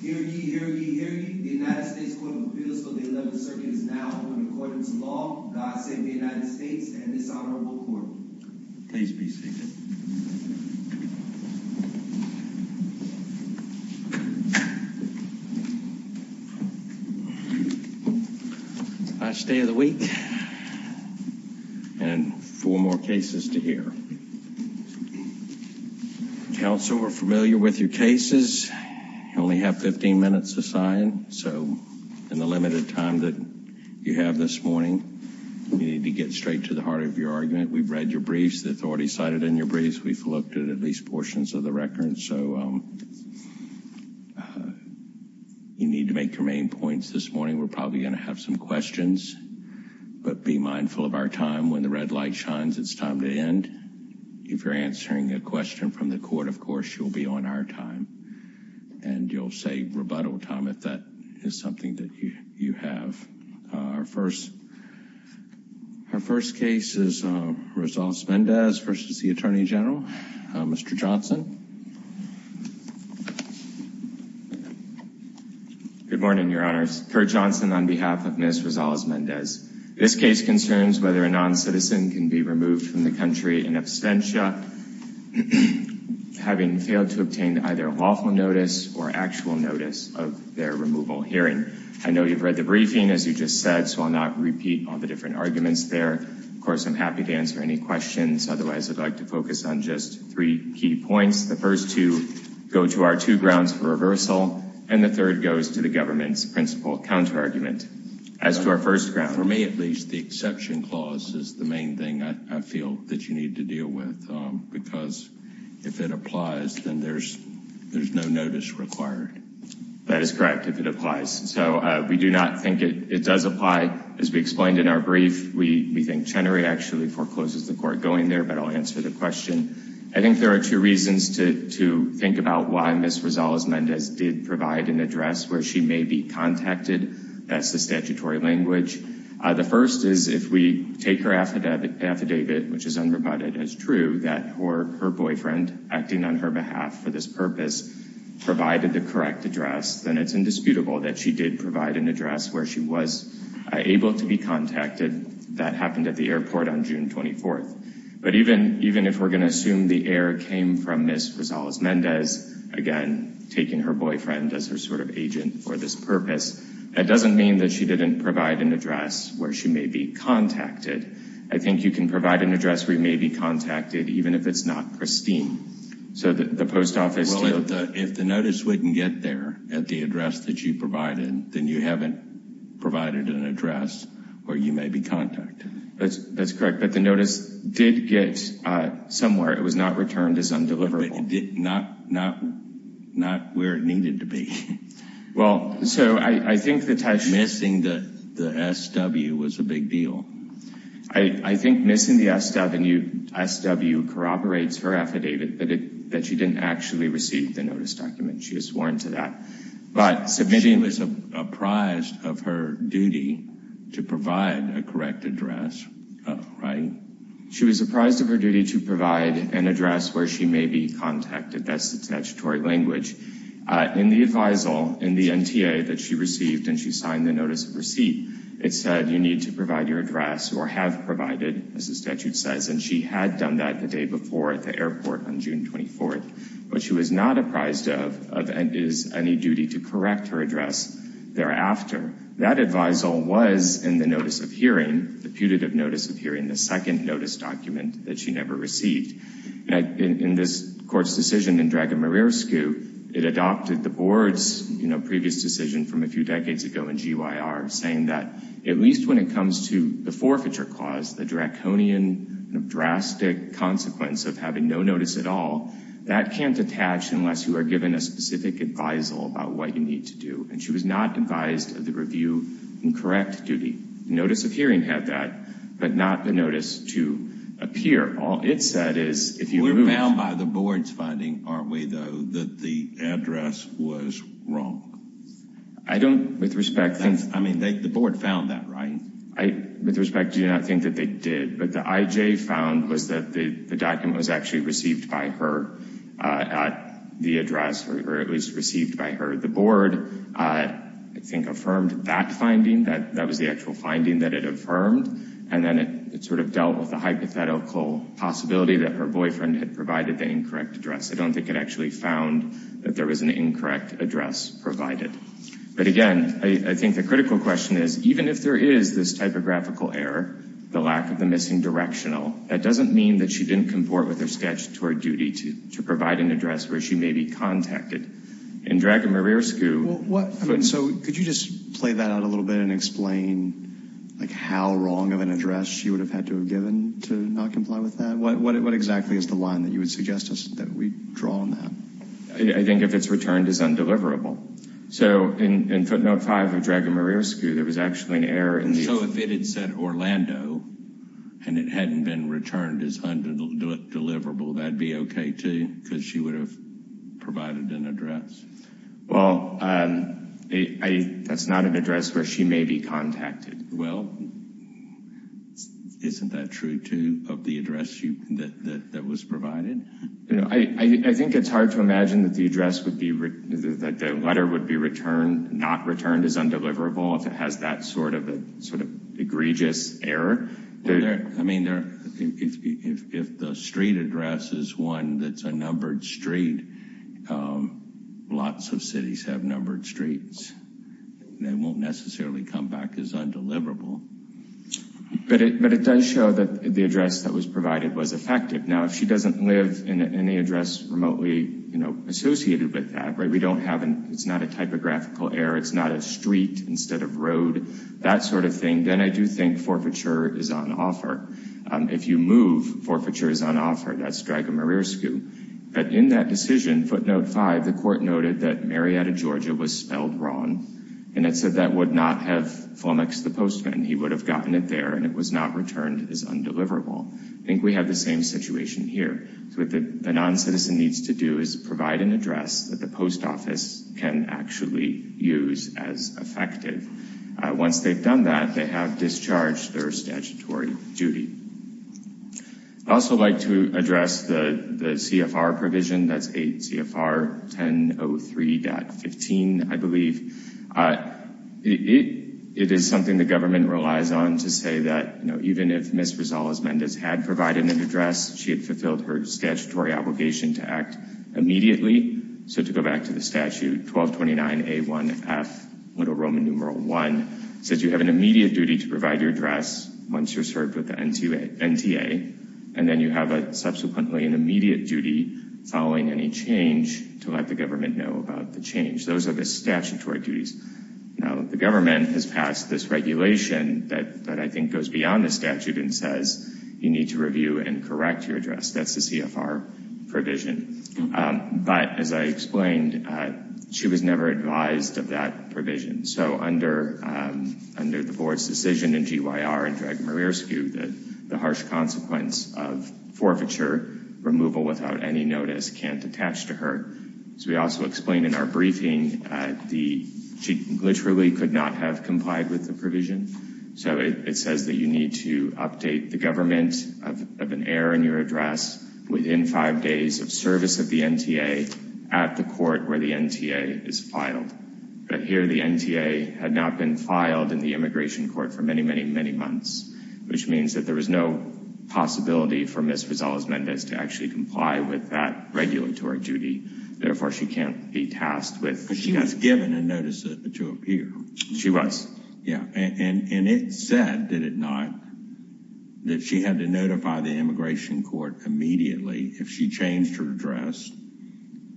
Hear ye, hear ye, hear ye. The United States Court of Appeals for the 11th Circuit is now in accordance with law. God save the United States and this honorable court. Please be seated. Last day of the week and four more cases to hear. Counsel, we're familiar with your cases. You only have 15 minutes to sign. So in the limited time that you have this morning, we need to get straight to the heart of your argument. We've read your briefs. The authority cited in your briefs. We've looked at at least portions of the record. So you need to make your main points this morning. We're probably going to have some questions, but be mindful of our time. When the red light shines, it's time to end. If you're answering a question from the court, of course, you'll be on our time and you'll save rebuttal time if that is something that you have. Our first our first case is Rosales-Mendez versus the attorney general, Mr. Johnson. Good morning, Your Honors. Kurt Johnson on behalf of Ms. Rosales-Mendez. This case concerns whether a non-citizen can be removed from the country in absentia, having failed to obtain either a lawful notice or actual notice of their removal hearing. I know you've read the briefing, as you just said, so I'll not repeat all the different arguments there. Of course, I'm happy to answer any questions. Otherwise, I'd like to focus on just three key points. The first two go to our two grounds for reversal, and the third goes to the government's principal counterargument. As to our first ground. For me, at least, the exception clause is the main thing I feel that you need to deal with, because if it applies, then there's no notice required. That is correct, if it applies. So we do not think it does apply. As we explained in our brief, we think Chenery actually forecloses the court going there, but I'll answer the question. I think there are two reasons to think about why Ms. Rosales-Mendez did provide an address where she may be contacted. That's the statutory language. The first is if we take her affidavit, which is unrebutted as true, that her boyfriend, acting on her behalf for this purpose, provided the correct address, then it's indisputable that she did provide an address where she was able to be contacted. That happened at the airport on June 24th. But even if we're going to assume the error came from Ms. Rosales-Mendez, again, taking her boyfriend as her sort of agent for this purpose, that doesn't mean that she didn't provide an address where she may be contacted. I think you can provide an address where you may be contacted, even if it's not pristine. So the post office... Well, if the notice wouldn't get there at the address that you provided, then you haven't provided an address where you may be contacted. That's correct, but the notice did get somewhere. It was not returned as undeliverable. Not where it needed to be. Well, so I think the... Missing the SW was a big deal. I think missing the SW corroborates her affidavit that she didn't actually receive the notice document. She was sworn to that. She was apprised of her duty to provide a correct address, right? She was apprised of her duty to provide an address where she may be contacted. That's the statutory language. In the advisal, in the NTA that she received and she signed the notice of receipt, it said you need to provide your address or have provided, as the statute says, and she had done that the day before at the airport on June 24th. But she was not apprised of any duty to correct her address thereafter. That advisal was in the notice of hearing, the putative notice of hearing, the second notice document that she never received. In this Court's decision in Dragomirescu, it adopted the Board's previous decision from a few decades ago in GYR, saying that at least when it comes to the forfeiture clause, the draconian, drastic consequence of having no notice at all, that can't attach unless you are given a specific advisal about what you need to do. And she was not advised of the review and correct duty. The notice of hearing had that, but not the notice to appear. We're bound by the Board's finding, aren't we, though, that the address was wrong? I mean, the Board found that, right? With respect, I do not think that they did, but what the IJ found was that the document was actually received by her at the address, or it was received by her. The Board, I think, affirmed that finding. That was the actual finding that it affirmed. And then it sort of dealt with the hypothetical possibility that her boyfriend had provided the incorrect address. I don't think it actually found that there was an incorrect address provided. But again, I think the critical question is, even if there is this typographical error, the lack of the missing directional, that doesn't mean that she didn't comport with her statutory duty to provide an address where she may be contacted. In Dragomirescu... Could you just play that out a little bit and explain how wrong of an address she would have had to have given to not comply with that? What exactly is the line that you would suggest that we draw on that? I think if it's returned as undeliverable. So in footnote 5 of Dragomirescu, there was actually an error in the... So if it had said Orlando, and it hadn't been returned as undeliverable, that would be okay, too, because she would have provided an address? Well, that's not an address where she may be contacted. Well, isn't that true, too, of the address that was provided? I think it's hard to imagine that the letter would be not returned as undeliverable if it has that sort of egregious error. I mean, if the street address is one that's a numbered street, lots of cities have numbered streets. They won't necessarily come back as undeliverable. But it does show that the address that was provided was effective. Now, if she doesn't live in any address remotely associated with that, it's not a typographical error, it's not a street instead of road, that sort of thing, then I do think forfeiture is on offer. If you move, forfeiture is on offer. That's Dragomirescu. But in that decision, footnote 5, the court noted that Marietta, Georgia was spelled wrong, and it said that would not have flummoxed the postman. He would have gotten it there, and it was not returned as undeliverable. I think we have the same situation here. So what the noncitizen needs to do is provide an address that the post office can actually use as effective. Once they've done that, they have discharged their statutory duty. I'd also like to address the CFR provision. That's 8 CFR 1003.15, I believe. It is something the government relies on to say that, you know, even if Ms. Rosales-Mendez had provided an address, she had fulfilled her statutory obligation to act immediately. So to go back to the statute, 1229A1F, Little Roman numeral 1, says you have an immediate duty to provide your address once you're served with the NTA, and then you have subsequently an immediate duty following any change to let the government know about the change. Those are the statutory duties. Now, the government has passed this regulation that I think goes beyond the statute and says, you need to review and correct your address. That's the CFR provision. But as I explained, she was never advised of that provision. So under the board's decision in GYR and Dragomirescu, the harsh consequence of forfeiture removal without any notice can't attach to her. As we also explained in our briefing, she literally could not have complied with the provision. So it says that you need to update the government of an error in your address within five days of service of the NTA at the court where the NTA is filed. But here, the NTA had not been filed in the immigration court for many, many, many months, which means that there was no possibility for Ms. Rosales-Mendez to actually comply with that regulatory duty. Therefore, she can't be tasked with... But she was given a notice to appear. She was. Yeah, and it said, did it not, that she had to notify the immigration court immediately if she changed her address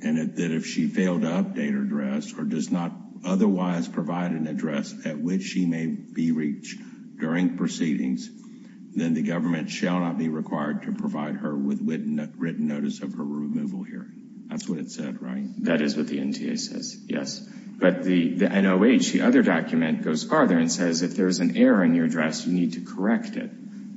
and that if she failed to update her address or does not otherwise provide an address at which she may be reached during proceedings, then the government shall not be required to provide her with written notice of her removal hearing. That's what it said, right? That is what the NTA says, yes. But the NOH, the other document, goes farther and says if there's an error in your address, you need to correct it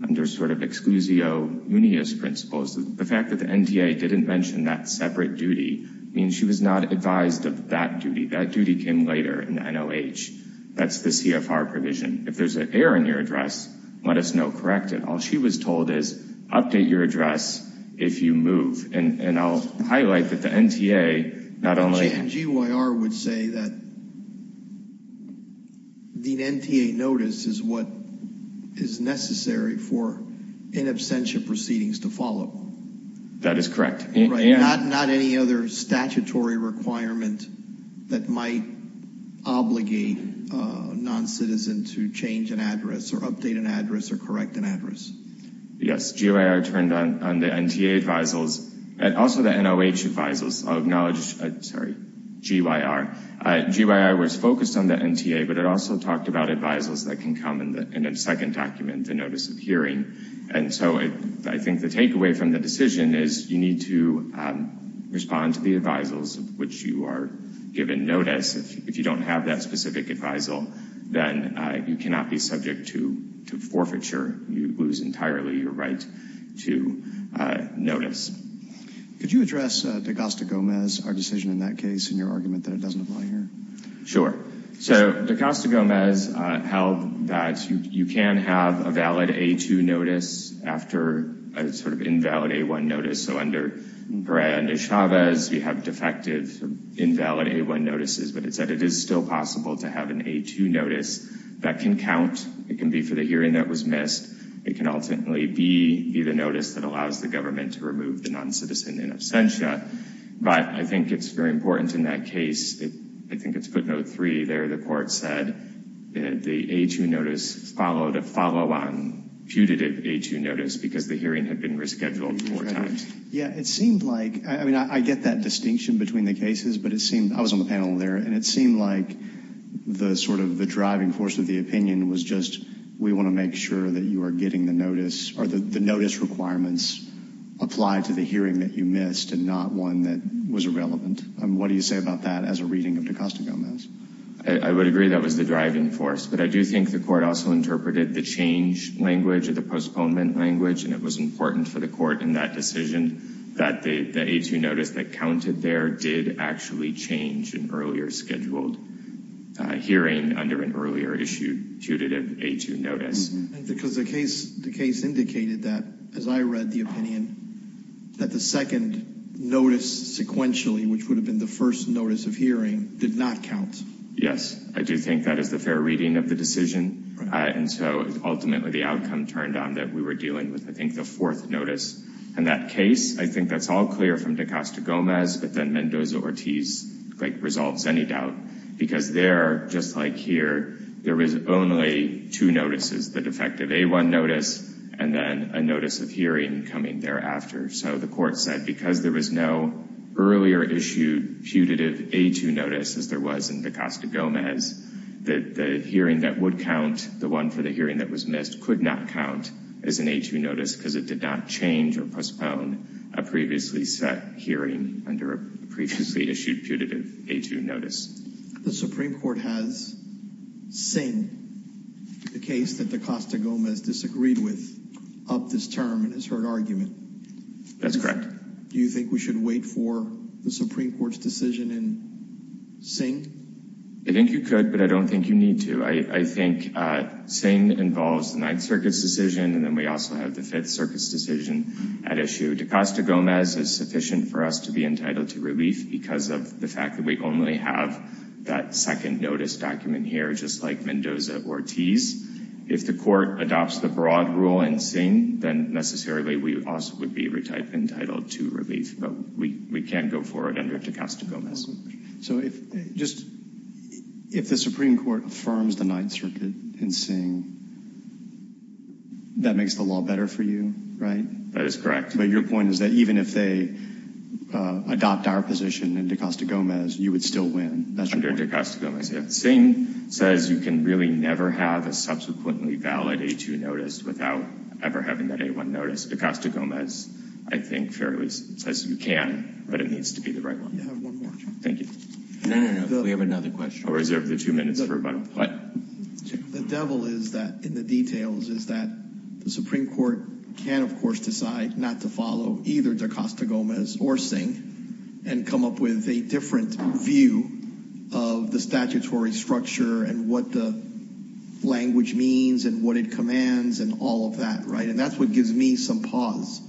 under sort of exclusio unius principles. The fact that the NTA didn't mention that separate duty means she was not advised of that duty. That duty came later in the NOH. That's the CFR provision. If there's an error in your address, let us know, correct it. All she was told is update your address if you move. And I'll highlight that the NTA not only... That is correct. Not any other statutory requirement that might obligate a noncitizen to change an address or update an address or correct an address? Yes. GYR turned on the NTA advisors and also the NOH advisors. I'll acknowledge, sorry, GYR. GYR was focused on the NTA, but it also talked about advisors that can come in a second document, the notice of hearing. And so I think the takeaway from the decision is you need to respond to the advisors, which you are given notice. If you don't have that specific advisal, then you cannot be subject to forfeiture. You lose entirely your right to notice. Could you address DaCosta-Gomez, our decision in that case, and your argument that it doesn't apply here? Sure. Sure. So DaCosta-Gomez held that you can have a valid A2 notice after a sort of invalid A1 notice. So under Perez and DeChavez, you have defective invalid A1 notices, but it said it is still possible to have an A2 notice that can count. It can be for the hearing that was missed. It can ultimately be the notice that allows the government to remove the noncitizen in absentia. But I think it's very important in that case. I think it's footnote 3 there. The court said the A2 notice followed a follow-on putative A2 notice because the hearing had been rescheduled four times. Yeah. It seemed like, I mean, I get that distinction between the cases, but it seemed, I was on the panel there, and it seemed like the sort of the driving force of the opinion was just, we want to make sure that you are getting the notice, or the notice requirements apply to the hearing that you missed and not one that was irrelevant. What do you say about that as a reading of DaCosta-Gomez? I would agree that was the driving force, but I do think the court also interpreted the change language or the postponement language, and it was important for the court in that decision that the A2 notice that counted there did actually change an earlier scheduled hearing under an earlier issued putative A2 notice. That the second notice sequentially, which would have been the first notice of hearing, did not count. Yes. I do think that is the fair reading of the decision, and so ultimately the outcome turned out that we were dealing with, I think, the fourth notice. In that case, I think that's all clear from DaCosta-Gomez, but then Mendoza-Ortiz resolves any doubt because there, just like here, there is only two notices, the defective A1 notice and then a notice of hearing coming thereafter. So the court said because there was no earlier issued putative A2 notice, as there was in DaCosta-Gomez, that the hearing that would count, the one for the hearing that was missed, could not count as an A2 notice because it did not change or postpone a previously set hearing under a previously issued putative A2 notice. The Supreme Court has Singh, the case that DaCosta-Gomez disagreed with, upped this term and has heard argument. That's correct. Do you think we should wait for the Supreme Court's decision in Singh? I think you could, but I don't think you need to. I think Singh involves the Ninth Circuit's decision, and then we also have the Fifth Circuit's decision at issue. We can't go forward under DaCosta-Gomez. So if the Supreme Court affirms the Ninth Circuit in Singh, that makes the law better for you, right? That is correct. But your point is that even if they adopt our position, they can't go forward under DaCosta-Gomez. you would still win. Under DaCosta-Gomez, yeah. Singh says you can really never have a subsequently valid A2 notice without ever having that A1 notice. DaCosta-Gomez, I think, fairly says you can, but it needs to be the right one. You have one more. Thank you. No, no, no. We have another question. I'll reserve the two minutes for rebuttal. What? The devil is that, in the details, is that the Supreme Court can, of course, decide not to follow either DaCosta-Gomez or Singh and come up with a different view of the statutory structure and what the language means and what it commands and all of that, right? And that's what gives me some pause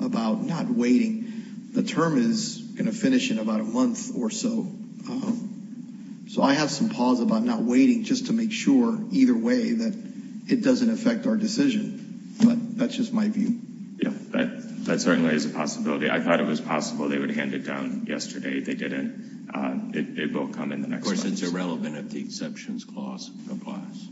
about not waiting. The term is going to finish in about a month or so. So I have some pause about not waiting just to make sure, either way, that it doesn't affect our decision. But that's just my view. Yeah, that certainly is a possibility. I thought it was possible they would hand it down yesterday. They didn't. It will come in the next month. Of course, it's irrelevant if the exceptions clause applies.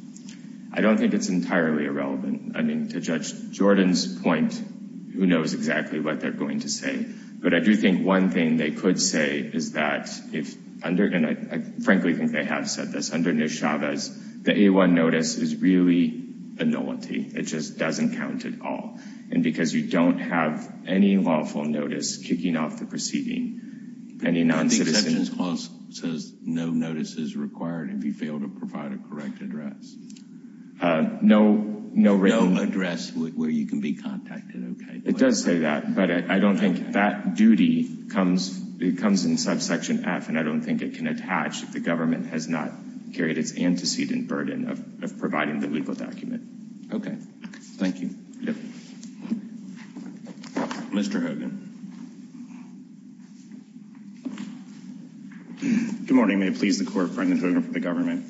I don't think it's entirely irrelevant. I mean, to Judge Jordan's point, who knows exactly what they're going to say. But I do think one thing they could say is that, and I frankly think they have said this, the A-1 notice is really a nullity. It just doesn't count at all. And because you don't have any lawful notice kicking off the proceeding, any non-citizens. The exceptions clause says no notice is required if you fail to provide a correct address. No written. No address where you can be contacted. It does say that, but I don't think that duty comes in subsection F, and I don't think it can attach if the government has not carried its antecedent burden of providing the legal document. Okay. Thank you. Yep. Mr. Hogan. Good morning. May it please the Court, Brendan Hogan for the government.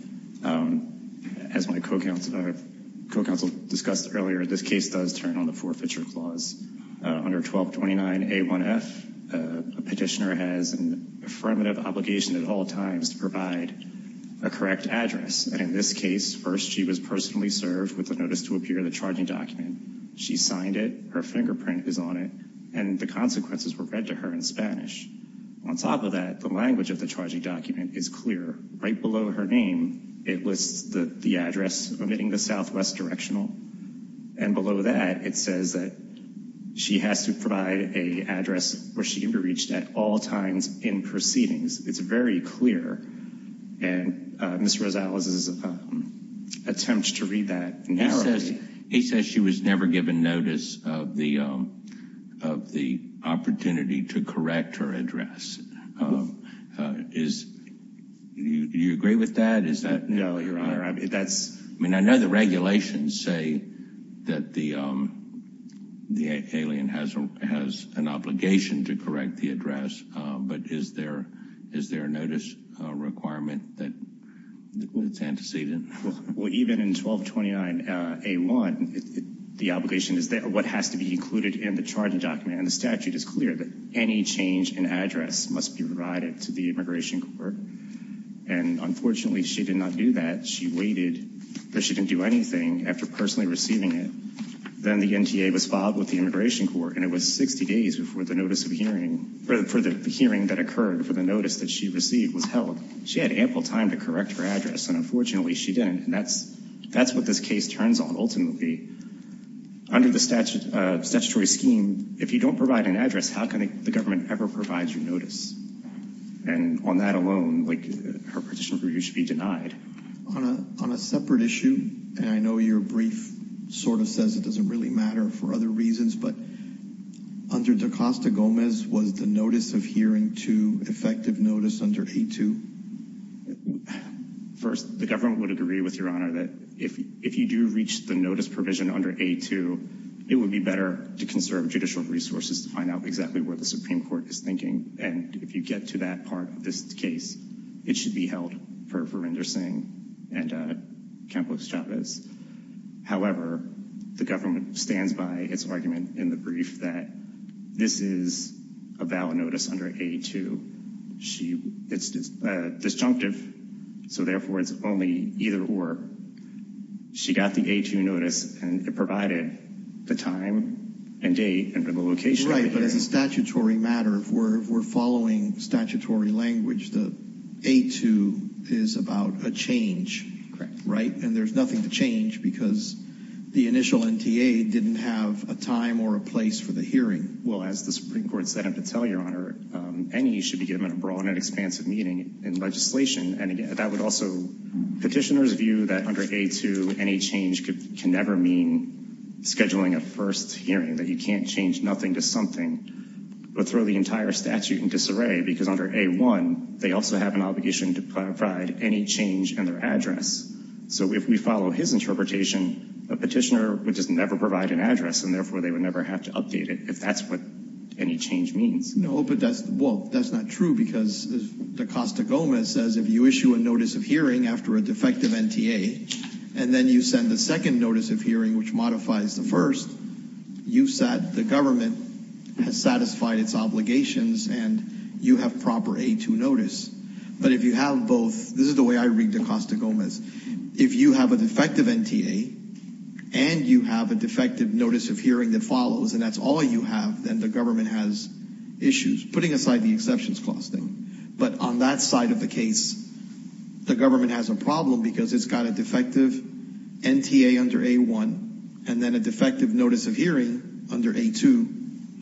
As my co-counsel discussed earlier, this case does turn on the forfeiture clause. Under 1229A1F, a petitioner has an affirmative obligation at all times to provide a correct address. And in this case, first she was personally served with a notice to appear in the charging document. She signed it. Her fingerprint is on it. And the consequences were read to her in Spanish. On top of that, the language of the charging document is clear. Right below her name, it lists the address omitting the southwest directional. And below that, it says that she has to provide an address where she can be reached at all times in proceedings. It's very clear. And Ms. Rosales' attempt to read that narrows it. He says she was never given notice of the opportunity to correct her address. Do you agree with that? No, Your Honor. I mean, I know the regulations say that the alien has an obligation to correct the address. But is there a notice requirement that it's antecedent? Well, even in 1229A1, the obligation is what has to be included in the charging document. And the statute is clear that any change in address must be provided to the immigration court. And unfortunately, she did not do that. She waited, but she didn't do anything after personally receiving it. Then the NTA was filed with the immigration court, and it was 60 days before the hearing that occurred for the notice that she received was held. She had ample time to correct her address, and unfortunately, she didn't. And that's what this case turns on, ultimately. Under the statutory scheme, if you don't provide an address, how can the government ever provide you notice? And on that alone, her petition review should be denied. On a separate issue, and I know your brief sort of says it doesn't really matter for other reasons, but under DaCosta-Gomez, was the notice of hearing to effective notice under A2? First, the government would agree with Your Honor that if you do reach the notice provision under A2, it would be better to conserve judicial resources to find out exactly what the Supreme Court is thinking. And if you get to that part of this case, it should be held for Verinder Singh and Campos Chavez. However, the government stands by its argument in the brief that this is a valid notice under A2. It's disjunctive, so therefore, it's only either or. She got the A2 notice, and it provided the time and date and the location. Right, but as a statutory matter, if we're following statutory language, the A2 is about a change, right? And there's nothing to change because the initial NTA didn't have a time or a place for the hearing. Well, as the Supreme Court set out to tell Your Honor, any should be given a broad and expansive meaning in legislation. And that would also, petitioners view that under A2, any change can never mean scheduling a first hearing, that you can't change nothing to something, but throw the entire statute in disarray, because under A1, they also have an obligation to provide any change in their address. So if we follow his interpretation, a petitioner would just never provide an address, and therefore, they would never have to update it if that's what any change means. No, but that's, well, that's not true, because the Costa Gomez says if you issue a notice of hearing after a defective NTA, and then you send the second notice of hearing, which modifies the first, you've sat, the government has satisfied its obligations, and you have proper A2 notice. But if you have both, this is the way I read the Costa Gomez, if you have a defective NTA, and you have a defective notice of hearing that follows, and that's all you have, then the government has issues, putting aside the exceptions clause thing. But on that side of the case, the government has a problem, because it's got a defective NTA under A1, and then a defective notice of hearing under A2,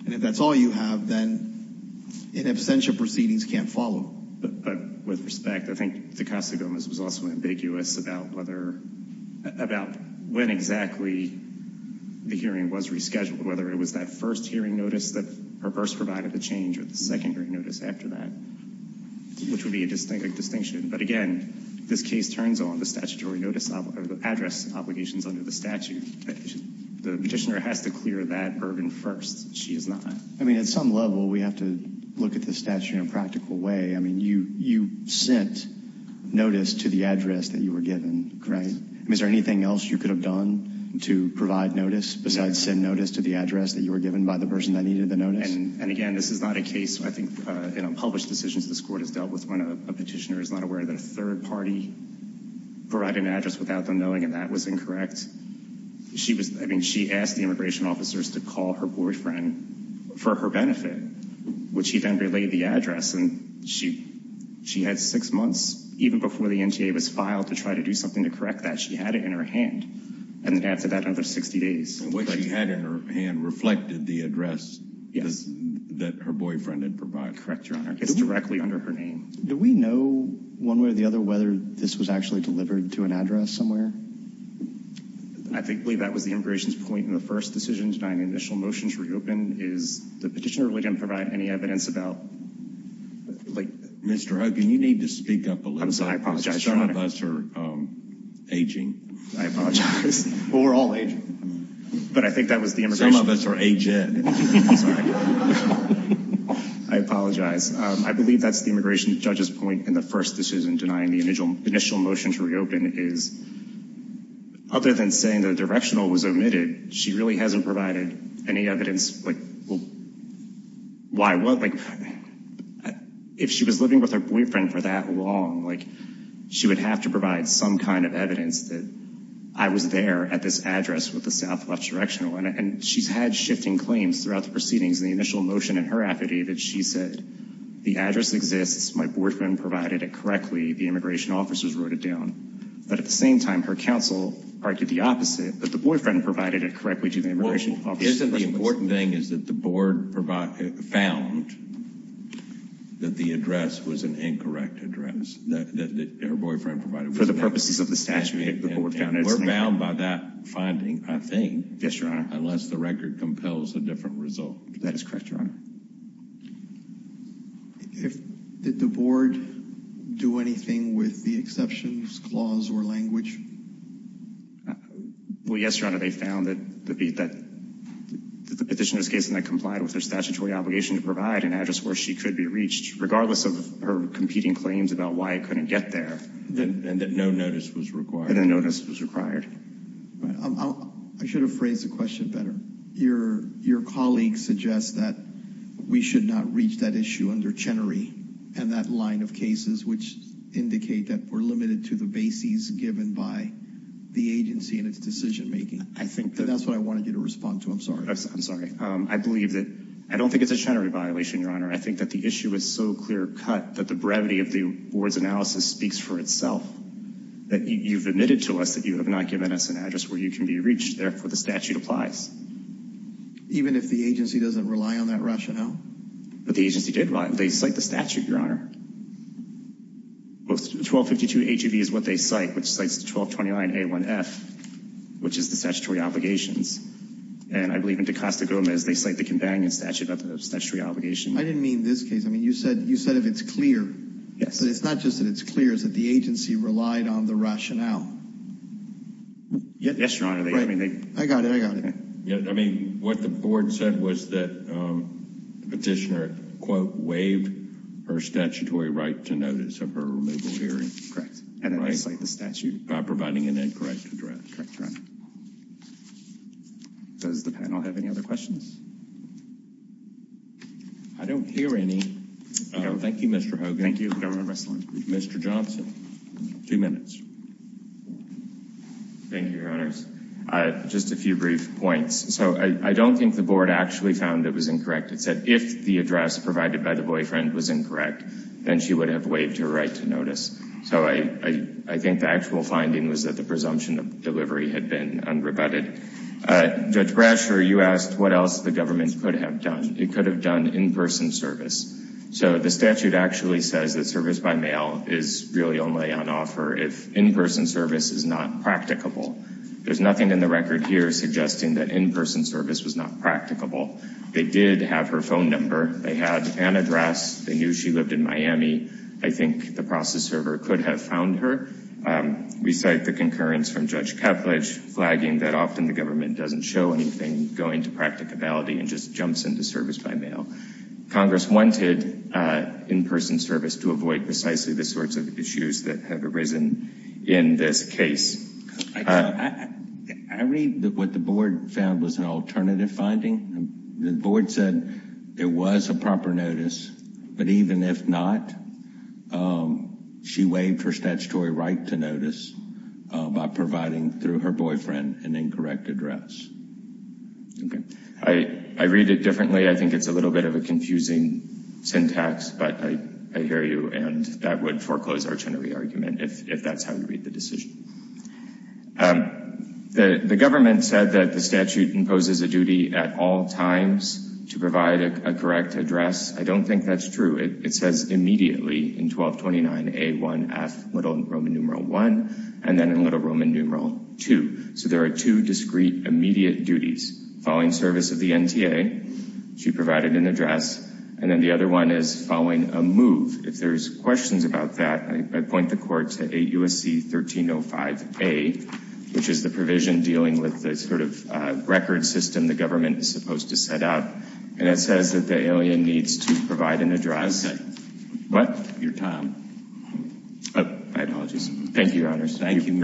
and if that's all you have, then in absentia proceedings can't follow. But with respect, I think the Costa Gomez was also ambiguous about whether, about when exactly the hearing was rescheduled, whether it was that first hearing notice that her purse provided the change, or the secondary notice after that, which would be a distinct distinction. But again, this case turns on the statutory notice of address obligations under the statute. The petitioner has to clear that burden first. She is not. I mean, at some level, we have to look at the statute in a practical way. I mean, you sent notice to the address that you were given, correct? Yes. I mean, is there anything else you could have done to provide notice, besides send notice to the address that you were given by the person that needed the notice? And again, this is not a case, I think, in unpublished decisions this Court has dealt with, when a petitioner is not aware that a third party provided an address without them knowing, and that was incorrect. I mean, she asked the immigration officers to call her boyfriend for her benefit, which he then relayed the address, and she had six months, even before the NTA was filed, to try to do something to correct that. She had it in her hand. And then after that, another 60 days. What she had in her hand reflected the address that her boyfriend had provided. Correct, Your Honor. It's directly under her name. Do we know, one way or the other, whether this was actually delivered to an address somewhere? I believe that was the immigration's point in the first decision, denying the initial motion to reopen, is the petitioner really didn't provide any evidence about, like... Mr. Hogan, you need to speak up a little bit. I'm sorry, I apologize, Your Honor. Some of us are aging. I apologize. Well, we're all aging. But I think that was the immigration... Some of us are aged. I'm sorry. I apologize. I believe that's the immigration judge's point in the first decision, denying the initial motion to reopen, is, other than saying the directional was omitted, she really hasn't provided any evidence, like, why what? If she was living with her boyfriend for that long, she would have to provide some kind of evidence that I was there at this address with the Southwest Directional. And she's had shifting claims throughout the proceedings. In the initial motion in her affidavit, she said, the address exists, my boyfriend provided it correctly, the immigration officers wrote it down. But at the same time, her counsel argued the opposite, that the boyfriend provided it correctly to the immigration officers. Well, isn't the important thing is that the board found that the address was an incorrect address, that her boyfriend provided it incorrectly? For the purposes of the statute, the board found it... And we're bound by that finding, I think. Yes, Your Honor. Unless the record compels a different result. That is correct, Your Honor. Did the board do anything with the exceptions clause or language? Well, yes, Your Honor. They found that the petitioner's case did not comply with her statutory obligation to provide an address where she could be reached, regardless of her competing claims about why it couldn't get there. And that no notice was required. And no notice was required. I should have phrased the question better. Your colleague suggests that we should not reach that issue under Chenery and that line of cases which indicate that we're limited to the bases given by the agency and its decision-making. I think that... That's what I wanted you to respond to. I'm sorry. I'm sorry. I believe that... I don't think it's a Chenery violation, Your Honor. I think that the issue is so clear-cut that the brevity of the board's analysis speaks for itself, that you've admitted to us that you have not given us an address where you can be reached. Therefore, the statute applies. Even if the agency doesn't rely on that rationale? But the agency did rely on it. They cite the statute, Your Honor. 1252A2B is what they cite, which cites 1229A1F, which is the statutory obligations. And I believe in DaCosta-Gomez, they cite the companion statute of the statutory obligation. I didn't mean this case. I mean, you said if it's clear. Yes. But it's not just that it's clear. It's that the agency relied on the rationale. Yes, Your Honor. I got it. I got it. I mean, what the board said was that the petitioner, quote, waived her statutory right to notice of her removal hearing. Correct. And then they cite the statute. By providing an incorrect address. Correct, Your Honor. Does the panel have any other questions? I don't hear any. Thank you, Mr. Hogan. Thank you, Governor Resslin. Mr. Johnson. Two minutes. Thank you, Your Honor. Just a few brief points. So I don't think the board actually found it was incorrect. It said if the address provided by the boyfriend was incorrect, then she would have waived her right to notice. So I think the actual finding was that the presumption of delivery had been unrebutted. Judge Brasher, you asked what else the government could have done. It could have done in-person service. So the statute actually says that service by mail is really only on offer if in-person service is not practicable. There's nothing in the record here suggesting that in-person service was not practicable. They did have her phone number. They had an address. They knew she lived in Miami. I think the process server could have found her. We cite the concurrence from Judge Keplech flagging that often the government doesn't show anything going to practicability and just jumps into service by mail. Congress wanted in-person service to avoid precisely the sorts of issues that have arisen in this case. I read that what the board found was an alternative finding. The board said it was a proper notice. But even if not, she waived her statutory right to notice by providing through her boyfriend an incorrect address. Okay. I read it differently. I think it's a little bit of a confusing syntax, but I hear you, and that would foreclose our Chenery argument if that's how you read the decision. The government said that the statute imposes a duty at all times to provide a correct address. I don't think that's true. It says immediately in 1229A1F, little Roman numeral 1, and then in little Roman numeral 2. So there are two discrete immediate duties. Following service of the NTA, she provided an address, and then the other one is following a move. If there's questions about that, I point the court to 8 U.S.C. 1305A, which is the provision dealing with the sort of record system the government is supposed to set up. And it says that the alien needs to provide an address. What? Oh, my apologies. Thank you, Your Honors. Thank you. Thank you, Mr. Johnson.